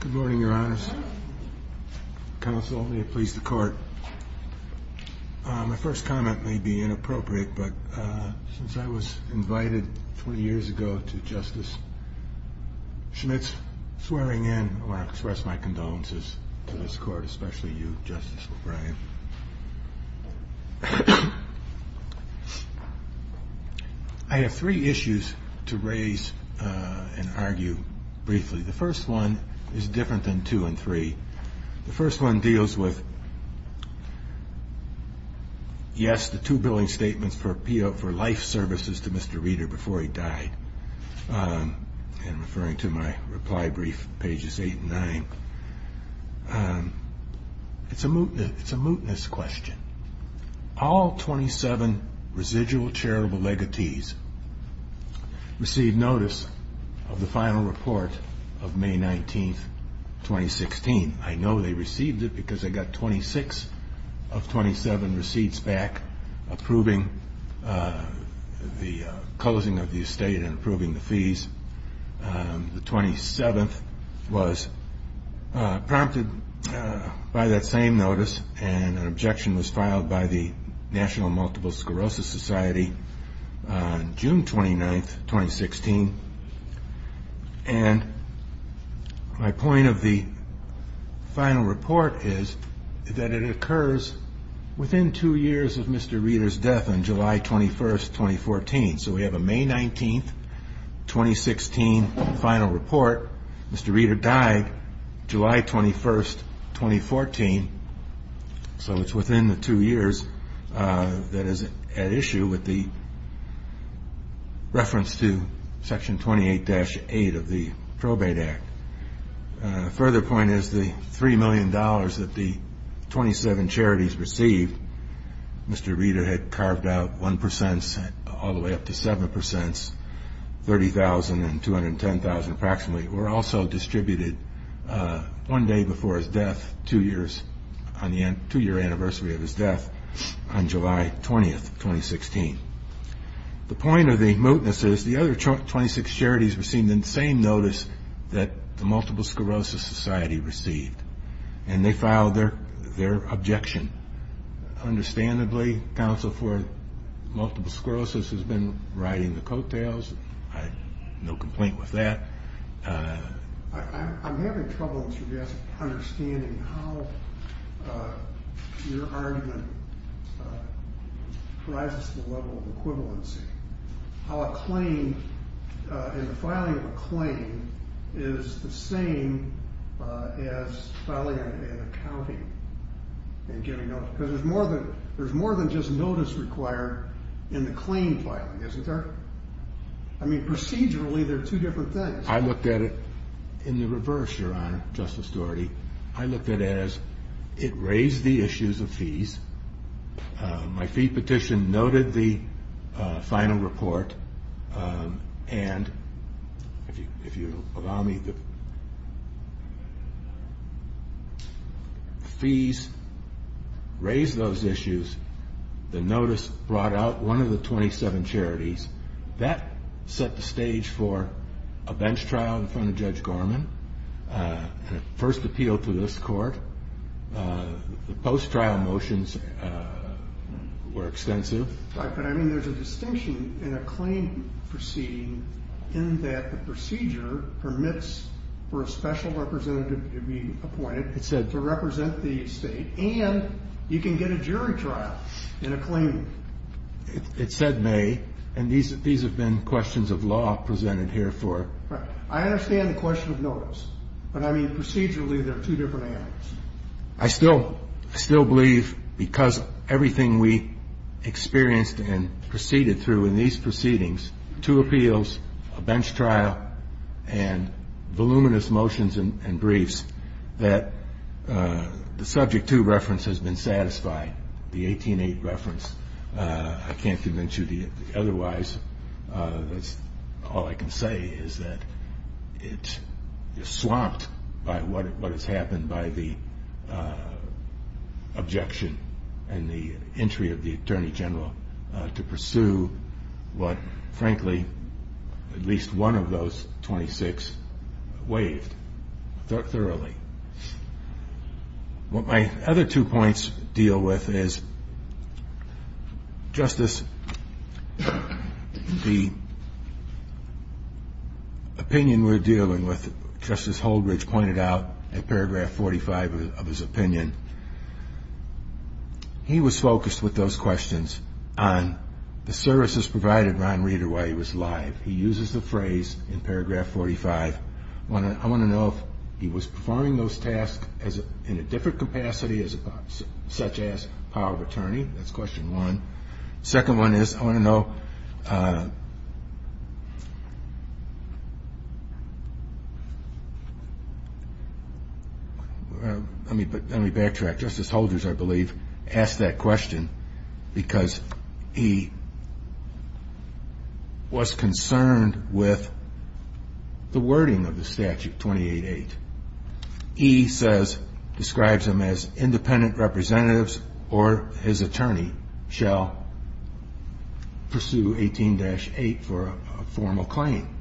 Good morning, Your Honors. Counsel, may it please the Court, my first comment may be inappropriate, but since I was invited 20 years ago to Justice Schmitz swearing in, I want to express my condolences to this Court, especially you, Justice O'Brien. I have three issues to raise and argue briefly. The first one is different than two and three. The first one deals with, yes, the two to Mr. Reader before he died. Referring to my reply brief, pages eight and nine. It is a mootness question. All 27 residual charitable legacies receive notice of the final report of May 19, 2016. I know they received it because they got 26 of 27 receipts back of personnel and approving the closing of the estate and approving the fees. The 27th was prompted by that same notice and an objection was filed by the National Multiple Sclerosis Society on June 29th, 2016. And my point of the final report is that it occurs within two years of Mr. Reader's death on July 21st, 2014. So we have a May 19th, 2016 final report. Mr. Reader died July 21st, 2014. So it's within the two years that is at issue with the reference to Section 28-8 of the Probate Act. A further point is the $3 million that the 27 charities received, Mr. Reader had carved out 1 percent, all the way up to 7 percent, $30,000 and $210,000 approximately, were also distributed one day before his death, two years after his death. On the two-year anniversary of his death, on July 20th, 2016. The point of the mootness is the other 26 charities received the same notice that the Multiple Sclerosis Society received. And they filed their objection. And understandably, Counsel for Multiple Sclerosis has been riding the coattails. I have no complaint with that. I'm having trouble understanding how your argument rises to the level of equivalency. How a claim, in the filing of a claim, is the same as filing an accounting and getting notes. Because there's more than just notice required in the claim filing, isn't there? I mean, procedurally, they're two different things. I looked at it in the reverse, Your Honor, Justice Doherty. I looked at it as, it raised the issues of fees. My fee petition noted the final report. And, if you'll allow me, the fees raised those issues, the notice brought out one of the 27 charities. That set the stage for a bench trial in front of Judge Gorman, the first appeal to this court. The post-trial motions were extensive. Right, but I mean, there's a distinction in a claim proceeding in that the procedure permits for a special representative to be appointed to represent the state, and you can get a jury trial in a claim. It said may, and these have been questions of law presented here for. Right. I understand the question of notice. But, I mean, procedurally, there are two different answers. I still believe, because everything we experienced and proceeded through in these proceedings, two appeals, a bench trial, and voluminous motions and briefs, that the Subject 2 reference has been satisfied. The 18-8 reference, I can't convince you otherwise. All I can say is that it is swamped by what has happened by the objection and the entry of the Attorney General to pursue what, frankly, at least one of those 26 waived thoroughly. What my other two points deal with is, Justice, the opinion we're dealing with, Justice Holdridge pointed out in paragraph 45 of his opinion, he was focused with those questions on the services provided to Ron Reeder while he was alive. He uses the phrase in paragraph 45. I want to know if he was performing those tasks in a different capacity, such as power of attorney. That's question one. Second one is, I want to know, let me backtrack. Justice Holdridge, I believe, asked that question because he was concerned with the wording of the statute, 28-8. He says, describes them as independent representatives or his attorney shall pursue 18-8 for a formal claim.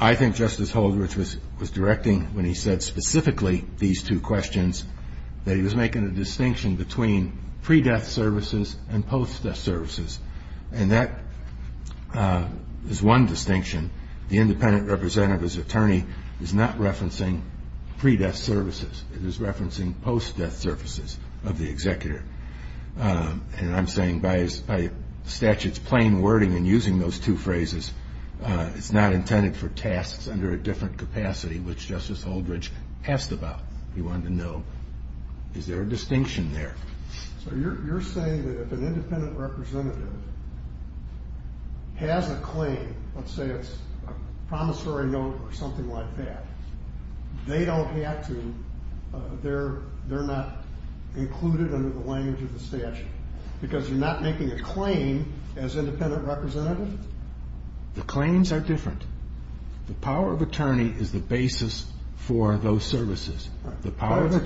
I think Justice Holdridge was directing when he said specifically these two questions that he was making a distinction between pre-death services and post-death services. And that is one distinction. The independent representative's attorney is not referencing pre-death services. It is referencing post-death services of the executor. And I'm saying by the statute's plain wording and using those two phrases, it's not intended for tasks under a different capacity, which Justice Holdridge asked about. He wanted to know, is there a distinction there? So you're saying that if an independent representative has a claim, let's say it's a promissory note or something like that, they don't have to, they're not included under the language of the statute because you're not making a claim as independent representative? The claims are different. The power of attorney is the basis for those services. It's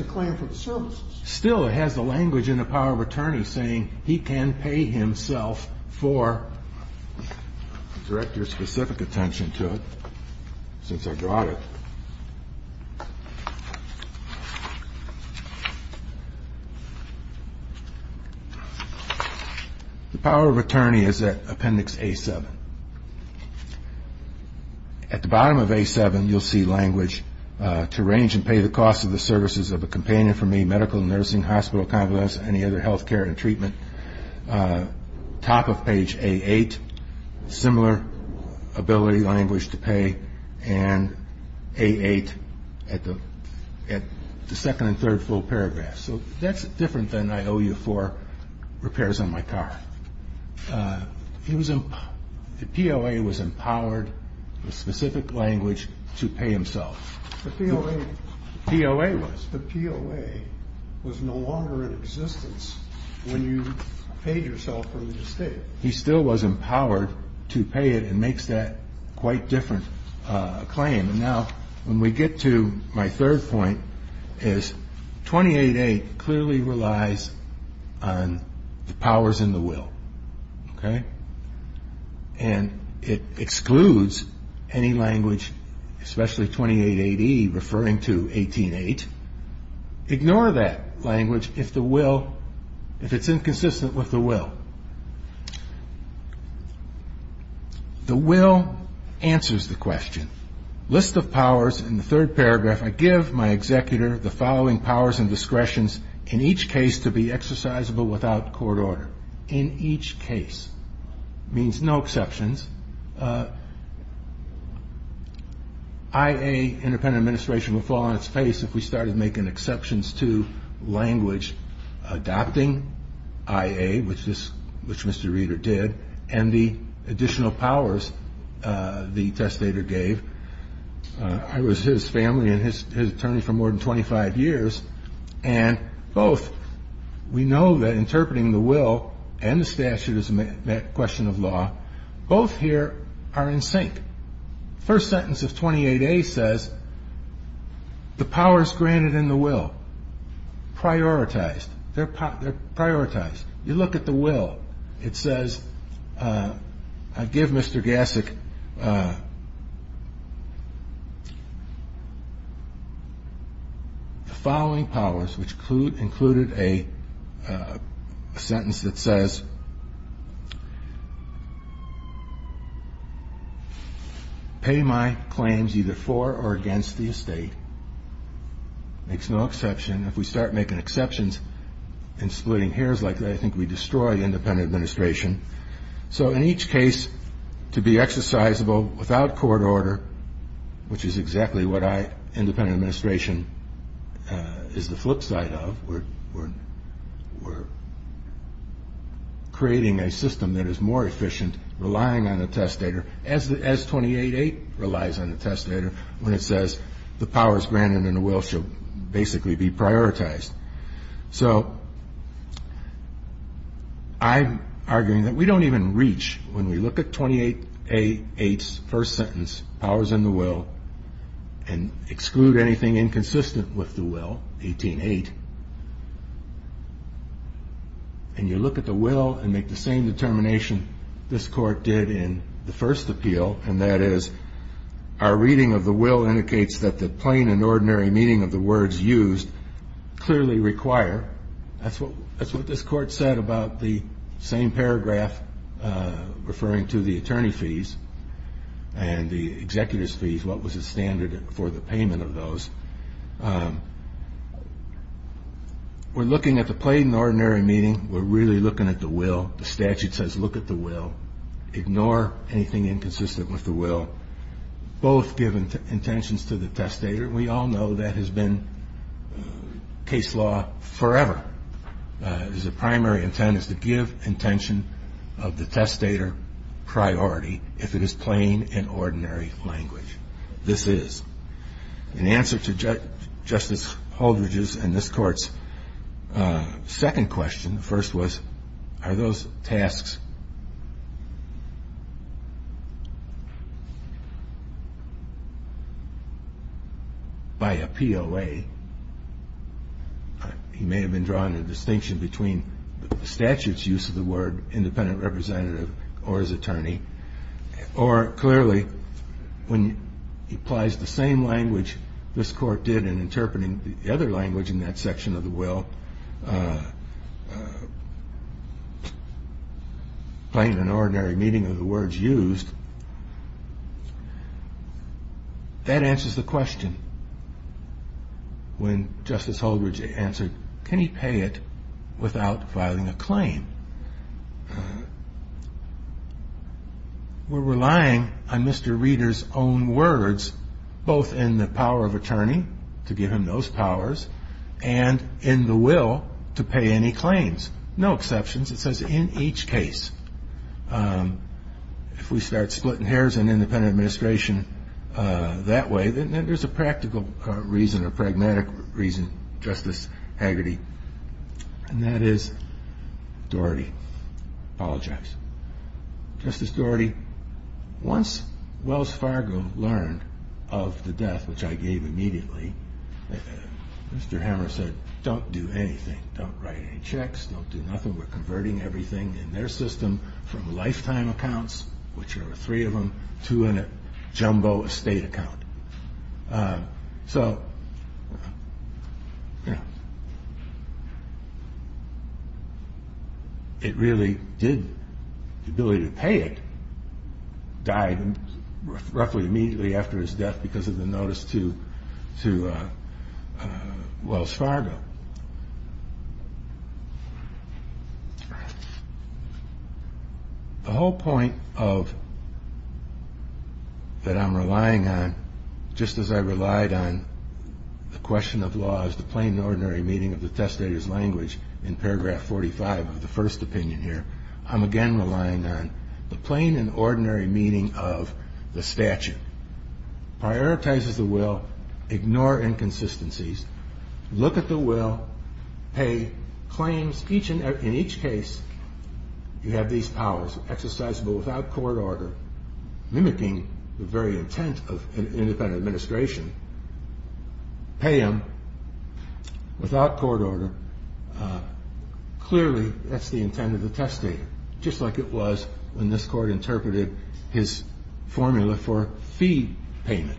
a claim for the services. Still, it has the language in the power of attorney saying he can pay himself for, direct your specific attention to it since I drawed it. The power of attorney is at Appendix A-7. At the bottom of A-7, you'll see language to arrange and pay the costs of the services of a companion for me, medical, nursing, hospital, convalescent, any other health care and treatment. Top of page A-8, similar ability language to pay and A-8 at the second and third full paragraphs. So that's different than I owe you for repairs on my car. The POA was empowered with specific language to pay himself. The POA was. The POA was no longer in existence when you paid yourself for the mistake. He still was empowered to pay it and makes that quite different claim. Now, when we get to my third point is 28-8 clearly relies on the powers and the will. Okay? And it excludes any language, especially 28-8E referring to 18-8. Ignore that language if the will, if it's inconsistent with the will. The will answers the question. List of powers in the third paragraph, I give my executor the following powers and discretions in each case to be exercisable without court order. In each case. Means no exceptions. IA, independent administration, would fall on its face if we started making exceptions to language adopting IA, which Mr. Reeder did, and the additional powers the testator gave. I was his family and his attorney for more than 25 years. And both we know that interpreting the will and the statute is a question of law. Both here are in sync. First sentence of 28-A says the powers granted in the will, prioritized. They're prioritized. You look at the will. It says I give Mr. Gassick the following powers, which included a sentence that says pay my claims either for or against the estate. Makes no exception. If we start making exceptions and splitting hairs like that, I think we destroy independent administration. So in each case, to be exercisable without court order, which is exactly what I, independent administration, is the flip side of. We're creating a system that is more efficient, relying on the testator. As 28-A relies on the testator when it says the powers granted in the will should basically be prioritized. So I'm arguing that we don't even reach, when we look at 28-A-8's first sentence, powers in the will, and exclude anything inconsistent with the will, 18-8, and you look at the will and make the same determination this court did in the first appeal, and that is our reading of the will indicates that the plain and ordinary meaning of the words used clearly require. That's what this court said about the same paragraph referring to the attorney fees and the executive's fees, what was the standard for the payment of those. We're looking at the plain and ordinary meaning. We're really looking at the will. The statute says look at the will. Ignore anything inconsistent with the will. Both give intentions to the testator. We all know that has been case law forever. The primary intent is to give intention of the testator priority if it is plain and ordinary language. This is. In answer to Justice Holdridge's and this court's second question, the first was, are those tasks by a POA, he may have been drawing a distinction between the statute's use of the word independent representative or his attorney, or clearly when he applies the same language this court did in interpreting the other language in that section of the will, plain and ordinary meaning of the words used, that answers the question. When Justice Holdridge answered, can he pay it without filing a claim? We're relying on Mr. Reader's own words both in the power of attorney to give him those powers and in the will to pay any claims. No exceptions. It says in each case, if we start splitting hairs in independent administration that way, then there's a practical reason or pragmatic reason, Justice Hagerty, and that is Doherty. Apologize. Justice Doherty, once Wells Fargo learned of the death, which I gave immediately, Mr. Hammer said, don't do anything. Don't write any checks. Don't do nothing. We're converting everything in their system from lifetime accounts, which are three of them, to a jumbo estate account. So it really did. The ability to pay it died roughly immediately after his death because of the notice to Wells Fargo. The whole point that I'm relying on, just as I relied on the question of law as the plain and ordinary meaning of the testator's language in paragraph 45 of the first opinion here, I'm again relying on the plain and ordinary meaning of the statute. Prioritizes the will. Ignore inconsistencies. Look at the will. Pay claims. In each case, you have these powers, exercisable without court order, mimicking the very intent of an independent administration. Pay them without court order. Clearly, that's the intent of the testator, just like it was when this court interpreted his formula for fee payment.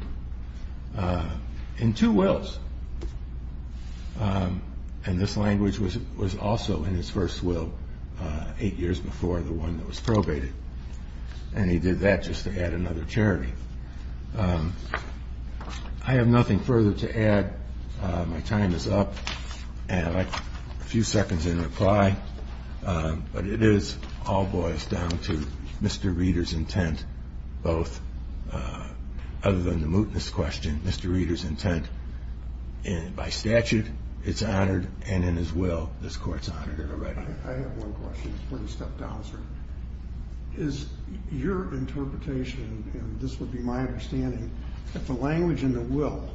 In two wills. And this language was also in his first will eight years before the one that was probated. And he did that just to add another charity. I have nothing further to add. My time is up. And I have a few seconds in reply. But it is all boils down to Mr. Reeder's intent, both other than the mootness question, Mr. Reeder's intent. And by statute, it's honored. And in his will, this court's honored it already. I have one question. Please step down, sir. Is your interpretation, and this would be my understanding, that the language in the will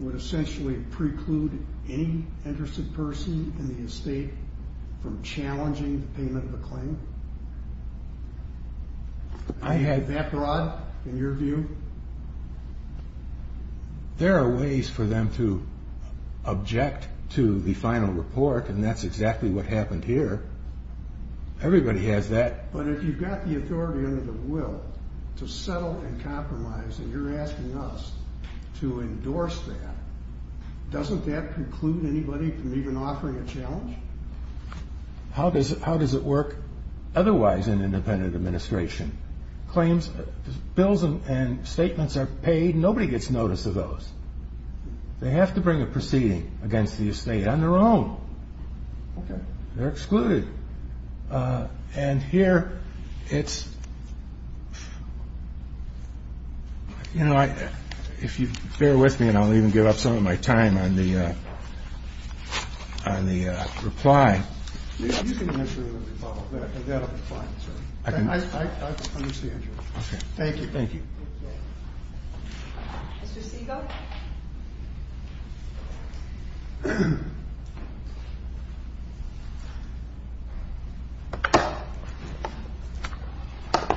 would essentially preclude any interested person in the estate from challenging the payment of a claim? I have that broad in your view? There are ways for them to object to the final report, and that's exactly what happened here. Everybody has that. But if you've got the authority under the will to settle and compromise, and you're asking us to endorse that, doesn't that preclude anybody from even offering a challenge? How does it work otherwise in an independent administration? Bills and statements are paid. Nobody gets notice of those. They have to bring a proceeding against the estate on their own. Okay. They're excluded. And here, it's ‑‑ you know, if you bear with me, and I'll even give up some of my time on the reply. You can issue a reply, but that will be fine, sir. I understand you. Okay. Thank you. Thank you. Mr. Siegel.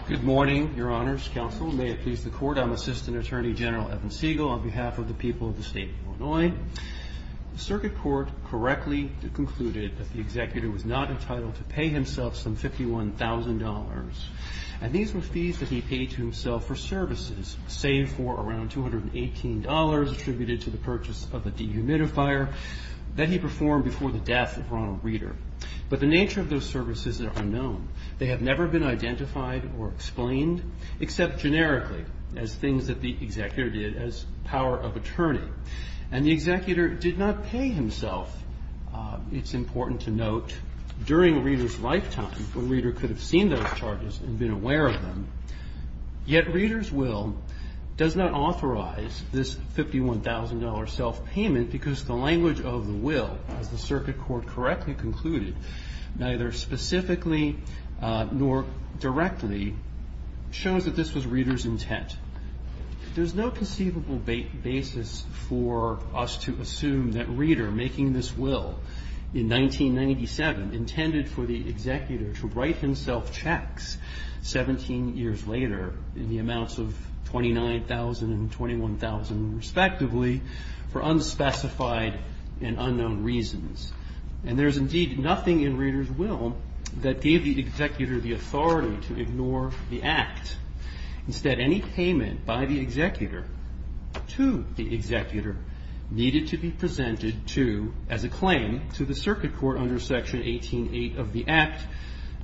Good morning, Your Honors Counsel. May it please the Court, I'm Assistant Attorney General Evan Siegel on behalf of the people of the State of Illinois. The circuit court correctly concluded that the executive was not entitled to pay himself some $51,000. And these were fees that he paid to himself for services, save for around $218 attributed to the purchase of a dehumidifier that he performed before the death of Ronald Reader. But the nature of those services are unknown. They have never been identified or explained, except generically as things that the executor did as power of attorney. And the executor did not pay himself. It's important to note, during Reader's lifetime, when Reader could have seen those charges and been aware of them, yet Reader's will does not authorize this $51,000 self‑payment because the language of the will, as the circuit court correctly concluded, neither specifically nor directly, shows that this was Reader's intent. There's no conceivable basis for us to assume that Reader, making this will in 1997, intended for the executor to write himself checks 17 years later in the amounts of $29,000 and $21,000, respectively, for unspecified and unknown reasons. And there's indeed nothing in Reader's will that gave the executor the authority to ignore the act. Instead, any payment by the executor to the executor needed to be presented to, as a claim, to the circuit court under section 18.8 of the act,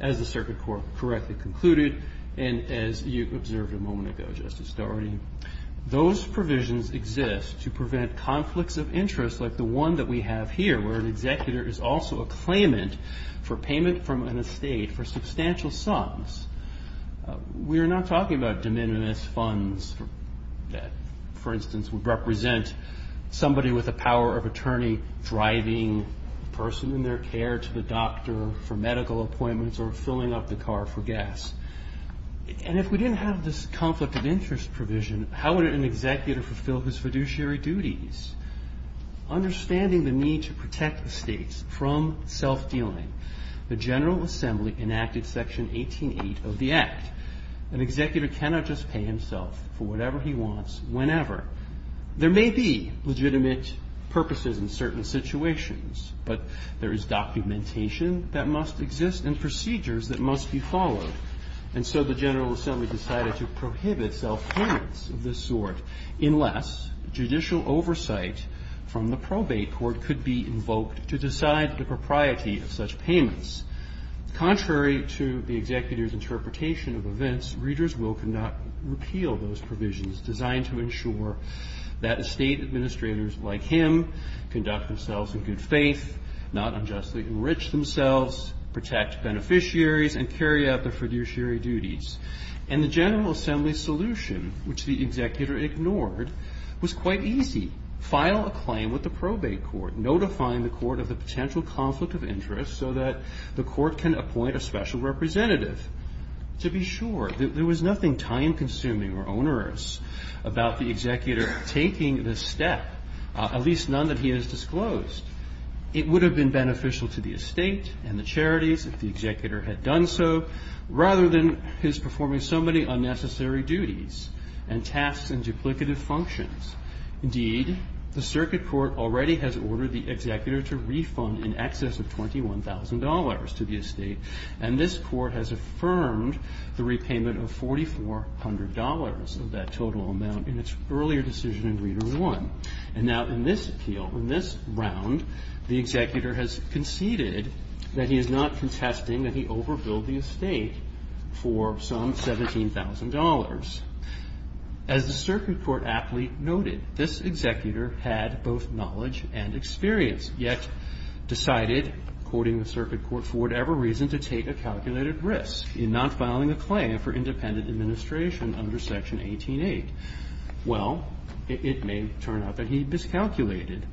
as the circuit court correctly concluded, and as you observed a moment ago, Justice Dougherty. Those provisions exist to prevent conflicts of interest like the one that we have here, where an executor is also a claimant for payment from an estate for substantial sums. We are not talking about de minimis funds that, for instance, would represent somebody with the power of attorney driving the person in their care to the doctor for medical appointments or filling up the car for gas. And if we didn't have this conflict of interest provision, how would an executor fulfill his fiduciary duties? Understanding the need to protect the states from self‑dealing, the General Assembly enacted section 18.8 of the act. An executor cannot just pay himself for whatever he wants, whenever. There may be legitimate purposes in certain situations, but there is documentation that must exist and procedures that must be followed. And so the General Assembly decided to prohibit self‑payments of this sort, unless judicial oversight from the probate court could be invoked to decide the propriety of such payments. Contrary to the executor's interpretation of events, readers will not repeal those provisions designed to ensure that estate administrators like him conduct themselves in good faith, not unjustly enrich themselves, protect beneficiaries, and carry out their fiduciary duties. And the General Assembly's solution, which the executor ignored, was quite easy. File a claim with the probate court, notifying the court of the potential conflict of interest so that the court can appoint a special representative to be sure. There was nothing time‑consuming or onerous about the executor taking this step, at least none that he has disclosed. It would have been beneficial to the estate and the charities if the executor had done so, rather than his performing so many unnecessary duties and tasks and duplicative functions. Indeed, the circuit court already has ordered the executor to refund in excess of $21,000 to the estate, and this court has affirmed the repayment of $4,400 of that total amount in its earlier decision in Reader 1. And now in this appeal, in this round, the executor has conceded that he is not contesting that he overbilled the estate for some $17,000. As the circuit court aptly noted, this executor had both knowledge and experience, yet decided, quoting the circuit court, for whatever reason to take a calculated risk in not filing a claim for independent administration under Section 18‑8. Well, it may turn out that he miscalculated.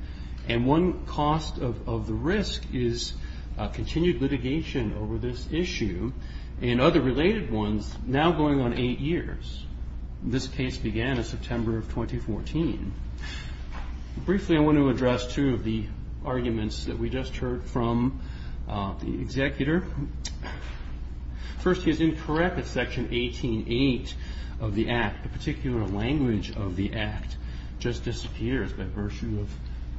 And one cost of the risk is continued litigation over this issue and other related ones now going on eight years. This case began in September of 2014. Briefly, I want to address two of the arguments that we just heard from the executor. First, he is incorrect that Section 18‑8 of the Act, a particular language of the Act, just disappears by virtue of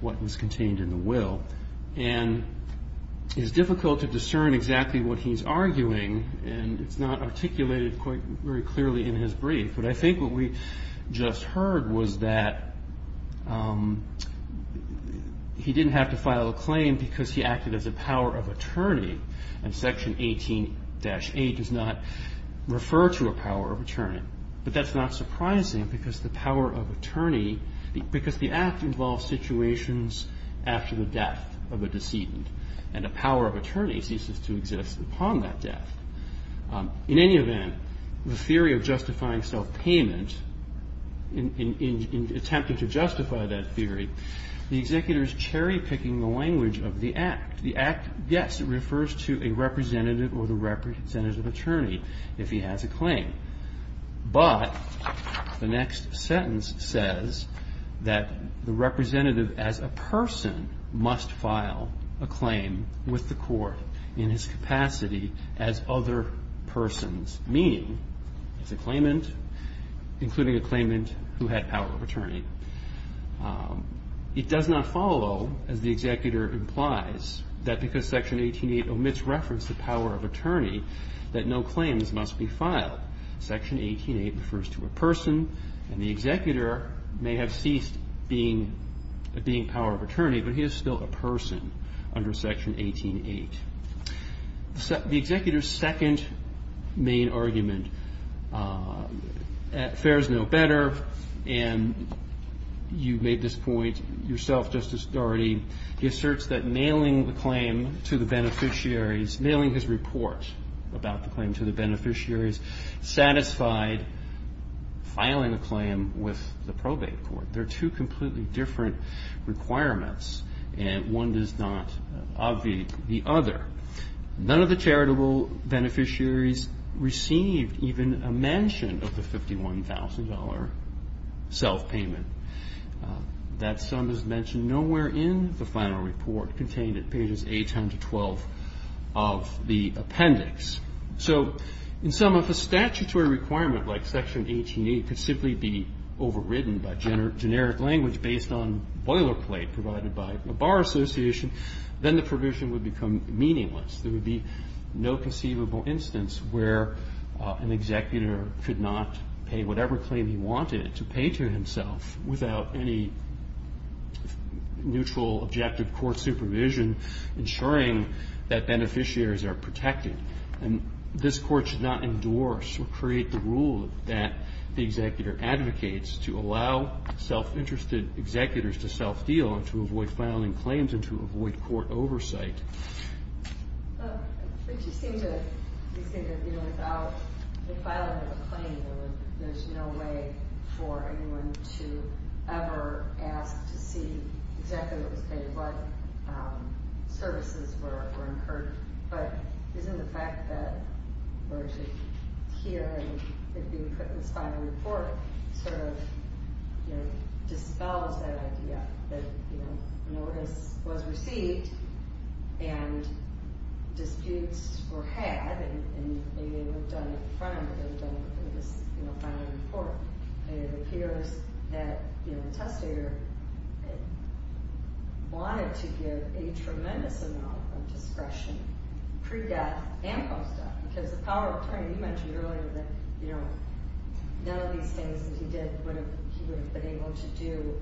what is contained in the will. And it is difficult to discern exactly what he is arguing, and it is not articulated quite very clearly in his brief. But I think what we just heard was that he didn't have to file a claim because he acted as a power of attorney, and Section 18‑8 does not refer to a power of attorney. But that's not surprising because the power of attorney, because the Act involves situations after the death of a decedent, and a power of attorney ceases to exist upon that death. In any event, the theory of justifying self‑payment, in attempting to justify that theory, the executor is cherry‑picking the language of the Act. The Act, yes, refers to a representative or the representative attorney if he has a claim. But the next sentence says that the representative, as a person, must file a claim with the court in his capacity as other persons, meaning as a claimant, including a claimant who had power of attorney. It does not follow, as the executor implies, that because Section 18‑8 omits reference to power of attorney, that no claims must be filed. Section 18‑8 refers to a person, and the executor may have ceased being a power of attorney, but he is still a person under Section 18‑8. The executor's second main argument fares no better, and you made this point yourself, Justice Dougherty. He asserts that mailing the claim to the beneficiaries, mailing his report about the claim to the beneficiaries, satisfied filing a claim with the probate court. They are two completely different requirements, and one does not obviate the other. None of the charitable beneficiaries received even a mention of the $51,000 self‑payment. That sum is mentioned nowhere in the final report contained at pages 8 and 12 of the appendix. So in sum, if a statutory requirement like Section 18‑8 could simply be overridden by generic language based on boilerplate provided by a bar association, then the provision would become meaningless. There would be no conceivable instance where an executor could not pay whatever claim he wanted to pay to himself without any neutral, objective court supervision, ensuring that beneficiaries are protected. And this court should not endorse or create the rule that the executor advocates to allow self‑interested executors to self‑deal and to avoid filing claims and to avoid court oversight. But you seem to think that, you know, without the filing of a claim, there's no way for anyone to ever ask to see exactly what was paid, what services were incurred. But isn't the fact that we're actually hearing it being put in this final report sort of, you know, dispels that idea that, you know, notice was received and disputes were had and maybe they weren't done in front of him, but they were done in this, you know, final report. And it appears that, you know, the testator wanted to give a tremendous amount of discretion pre‑death and post‑death because the power of attorney, you mentioned earlier, that, you know, none of these things that he did would have, he would have been able to do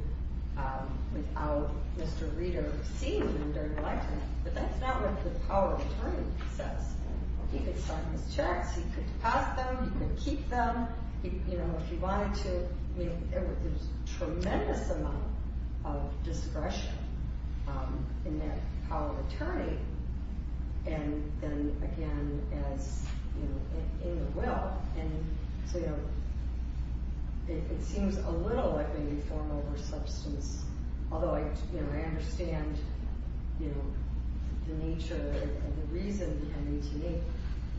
without Mr. Reeder seeing them during the lifetime. But that's not what the power of attorney says. He could sign those checks. He could pass them. He could keep them. You know, if he wanted to, you know, there was a tremendous amount of discretion in that power of attorney. And then, again, as, you know, in the will. And so, you know, it seems a little like maybe form over substance, although, you know, I understand, you know, the nature and the reason behind 18‑8,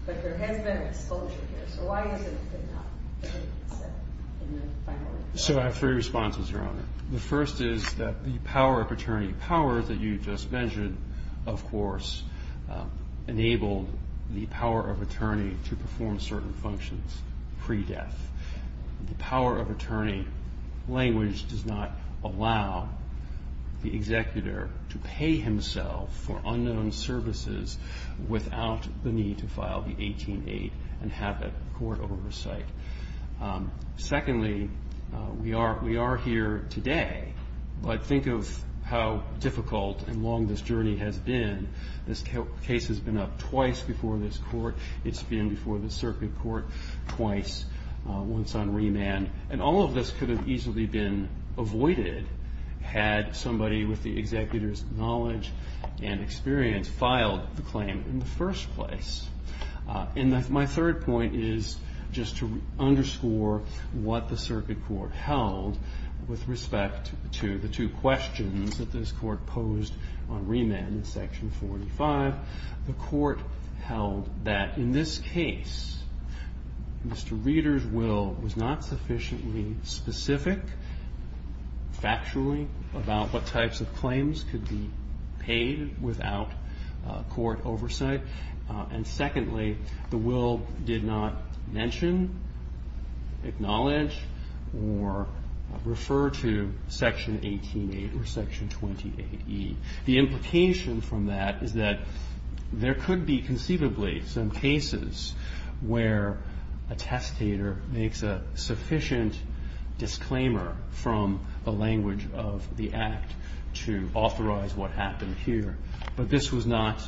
but there has been an exposure here. So why is it that not? So I have three responses, Your Honor. The first is that the power of attorney power that you just mentioned, of course, enabled the power of attorney to perform certain functions pre‑death. The power of attorney language does not allow the executor to pay himself for unknown services without the need to file the 18‑8 and have that court oversight. Secondly, we are here today, but think of how difficult and long this journey has been. This case has been up twice before this court. It's been before the circuit court twice, once on remand. And all of this could have easily been avoided had somebody with the executor's knowledge and experience filed the claim in the first place. And my third point is just to underscore what the circuit court held with respect to the two questions that this court posed on remand in Section 45. The court held that in this case, Mr. Reeder's will was not sufficiently specific, factually, about what types of claims could be paid without court oversight. And secondly, the will did not mention, acknowledge, or refer to Section 18‑8 or Section 28E. The implication from that is that there could be conceivably some cases where a testator makes a sufficient disclaimer from the language of the act to authorize what happened here. But this was not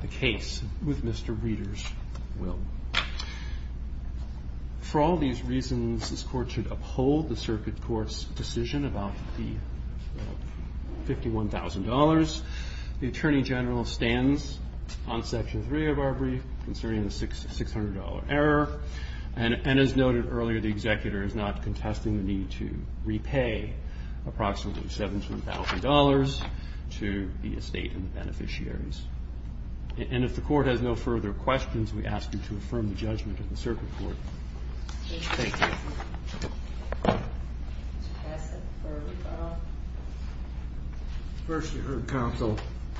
the case with Mr. Reeder's will. For all these reasons, this court should uphold the circuit court's decision about the $51,000. The Attorney General stands on Section 3 of our brief, considering the $600 error. And as noted earlier, the executor is not contesting the need to repay approximately $17,000 to the estate and the beneficiaries. And if the court has no further questions, we ask you to affirm the judgment of the circuit court. Thank you. First, you heard counsel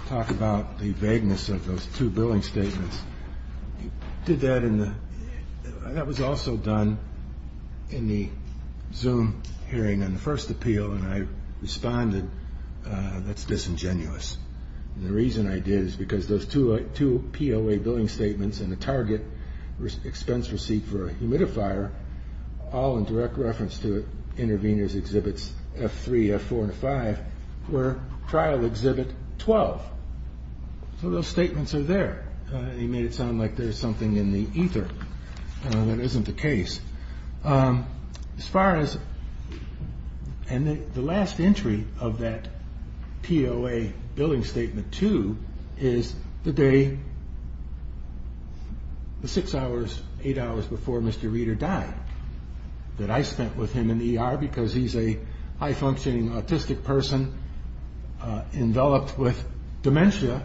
talk about the vagueness of those two billing statements. You did that in the ‑‑ that was also done in the Zoom hearing and the first appeal, and I responded, that's disingenuous. And the reason I did is because those two POA billing statements and the target expense receipt for a humidifier, all in direct reference to interveners exhibits F3, F4, and F5, were trial exhibit 12. So those statements are there. He made it sound like there's something in the ether that isn't the case. As far as ‑‑ and the last entry of that POA billing statement, too, is the day, the six hours, eight hours before Mr. Reeder died, that I spent with him in the ER because he's a high‑functioning autistic person enveloped with dementia,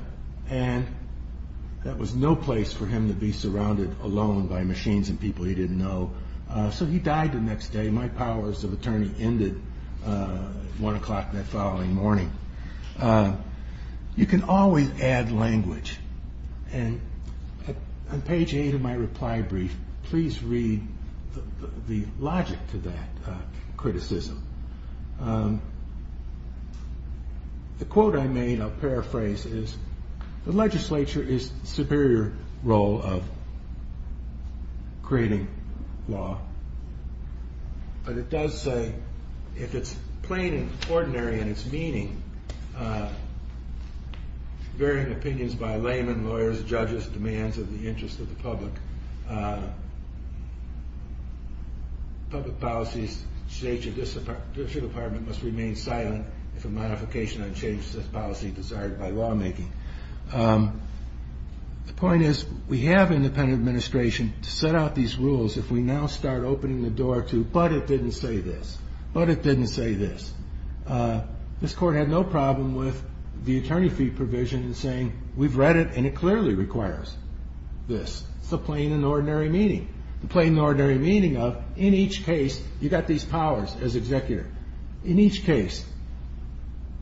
and that was no place for him to be surrounded alone by machines and people he didn't know. So he died the next day. My powers of attorney ended at 1 o'clock that following morning. You can always add language, and on page 8 of my reply brief, please read the logic to that criticism. The quote I made, I'll paraphrase, is, the legislature is the superior role of creating law. But it does say, if it's plain and ordinary in its meaning, varying opinions by layman, lawyers, judges, demands of the interest of the public, public policies, states or district department must remain silent if a modification or change to this policy is desired by lawmaking. The point is, we have independent administration to set out these rules if we now start opening the door to, but it didn't say this, but it didn't say this. This court had no problem with the attorney fee provision in saying, we've read it and it clearly requires this. It's the plain and ordinary meaning. The plain and ordinary meaning of, in each case, you've got these powers as executor. In each case,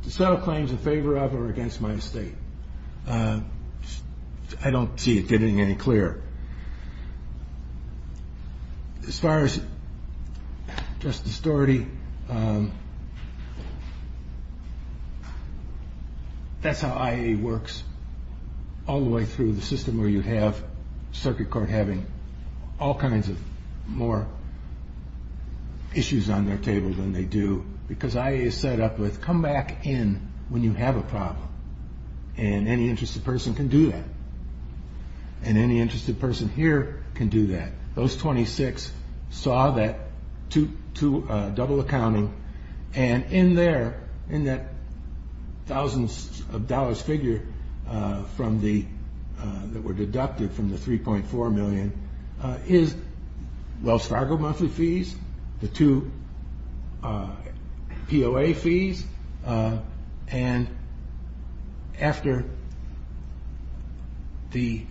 to settle claims in favor of or against my estate. I don't see it getting any clearer. As far as Justice Doherty, that's how IA works, all the way through the system where you have circuit court having all kinds of more issues on their table than they do. Because IA is set up with, come back in when you have a problem. And any interested person can do that. And any interested person here can do that. Those 26 saw that double accounting, and in that thousands of dollars figure that were deducted from the 3.4 million is Wells Fargo monthly fees, the two POA fees, and after the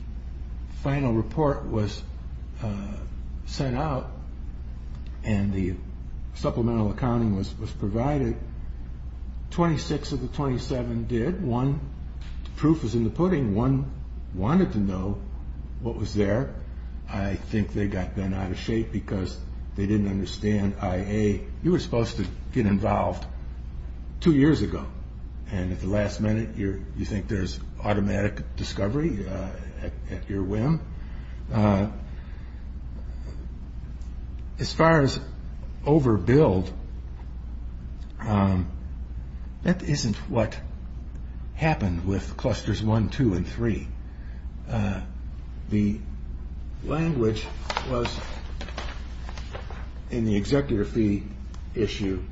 final report was sent out and the supplemental accounting was provided, 26 of the 27 did. One proof was in the pudding. One wanted to know what was there. I think they got bent out of shape because they didn't understand IA. You were supposed to get involved two years ago, and at the last minute you think there's automatic discovery at your whim. As far as overbill, that isn't what happened with clusters one, two, and three. The language was in the executive fee issue.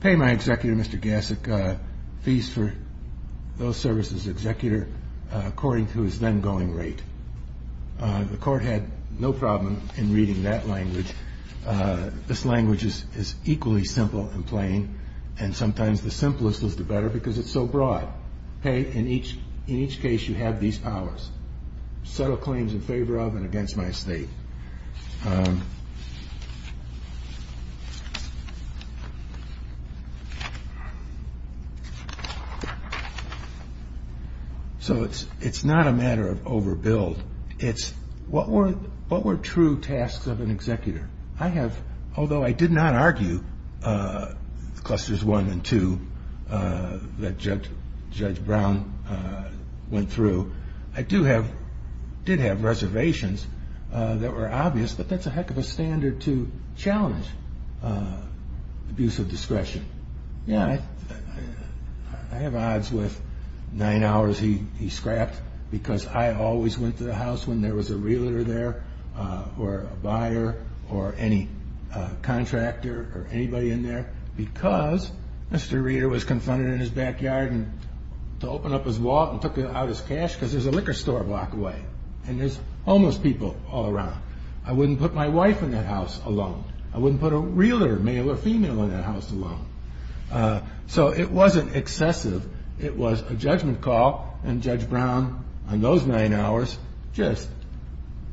Pay my executive, Mr. Gassick, fees for those services, executive according to his then going rate. The court had no problem in reading that language. This language is equally simple and plain, and sometimes the simplest is the better because it's so broad. Hey, in each case you have these powers. Subtle claims in favor of and against my estate. So it's not a matter of overbill. It's what were true tasks of an executor. Although I did not argue clusters one and two that Judge Brown went through, I did have reservations that were obvious, but that's a heck of a standard to challenge abuse of discretion. I have odds with nine hours he scrapped because I always went to the house when there was a realtor there or a buyer or any contractor or anybody in there because Mr. Reader was confronted in his backyard and to open up his wallet and took out his cash because there's a liquor store a block away and there's homeless people all around. I wouldn't put my wife in that house alone. I wouldn't put a realtor, male or female, in that house alone. So it wasn't excessive. It was a judgment call, and Judge Brown on those nine hours just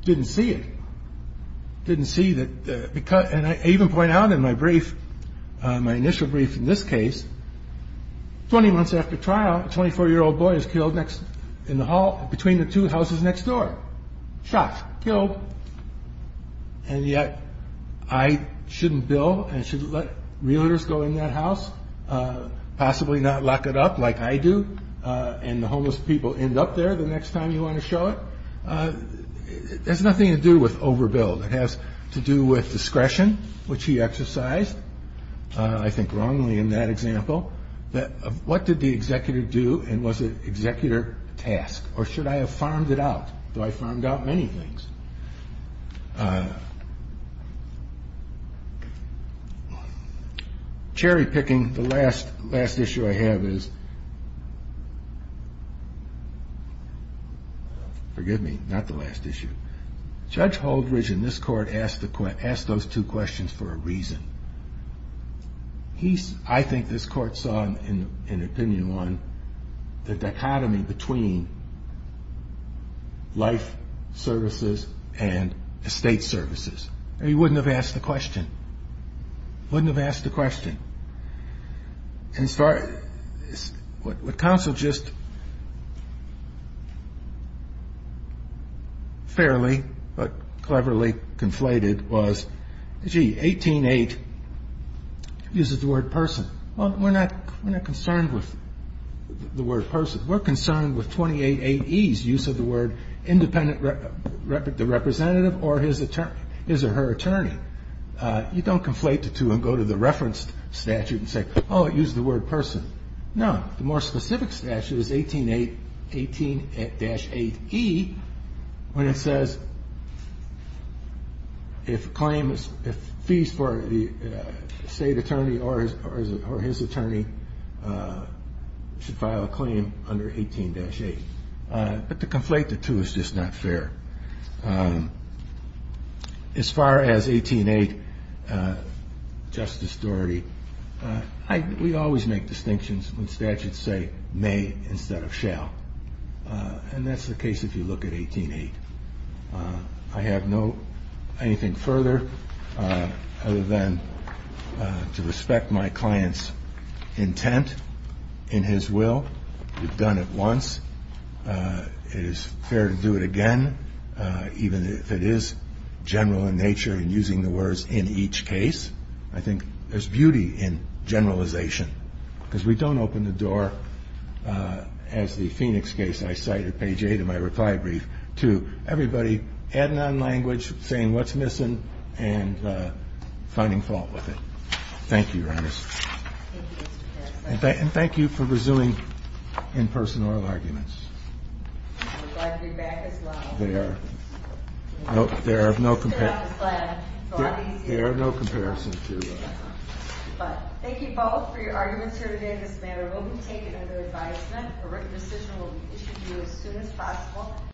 didn't see it, didn't see that. And I even point out in my brief, my initial brief in this case, 20 months after trial, a 24-year-old boy is killed in the hall between the two houses next door. Shot, killed, and yet I shouldn't bill and shouldn't let realtors go in that house, possibly not lock it up like I do and the homeless people end up there the next time you want to show it. It has nothing to do with overbill. It has to do with discretion, which he exercised, I think wrongly in that example. What did the executor do and was it executor task? Or should I have farmed it out, though I farmed out many things? Cherry-picking, the last issue I have is forgive me, not the last issue. Judge Holdridge in this court asked those two questions for a reason. I think this court saw an opinion on the dichotomy between life services and estate services. He wouldn't have asked the question. Wouldn't have asked the question. What counsel just fairly but cleverly conflated was gee, 18-8 uses the word person. Well, we're not concerned with the word person. We're concerned with 28-8E's use of the word independent representative or his or her attorney. You don't conflate the two and go to the reference statute and say oh, it uses the word person. No, the more specific statute is 18-8E when it says if claims, if fees for the state attorney or his attorney should file a claim under 18-8. But to conflate the two is just not fair. As far as 18-8 Justice Doherty, we always make distinctions when statutes say may instead of shall. And that's the case if you look at 18-8. I have no anything further other than to respect my client's intent in his will. We've done it once. It is fair to do it again even if it is general in nature and using the words in each case. I think there's beauty in generalization because we don't open the door as the Phoenix case I cite at page 8 of my reply brief to everybody adding on language, saying what's missing and finding fault with it. Thank you, Your Honor. And thank you for resuming in-person oral arguments. I would like to be back as well. There are no comparisons. There are no comparisons. Thank you both for your arguments here today on this matter. It will be taken under advisement. A written decision will be issued to you as soon as possible.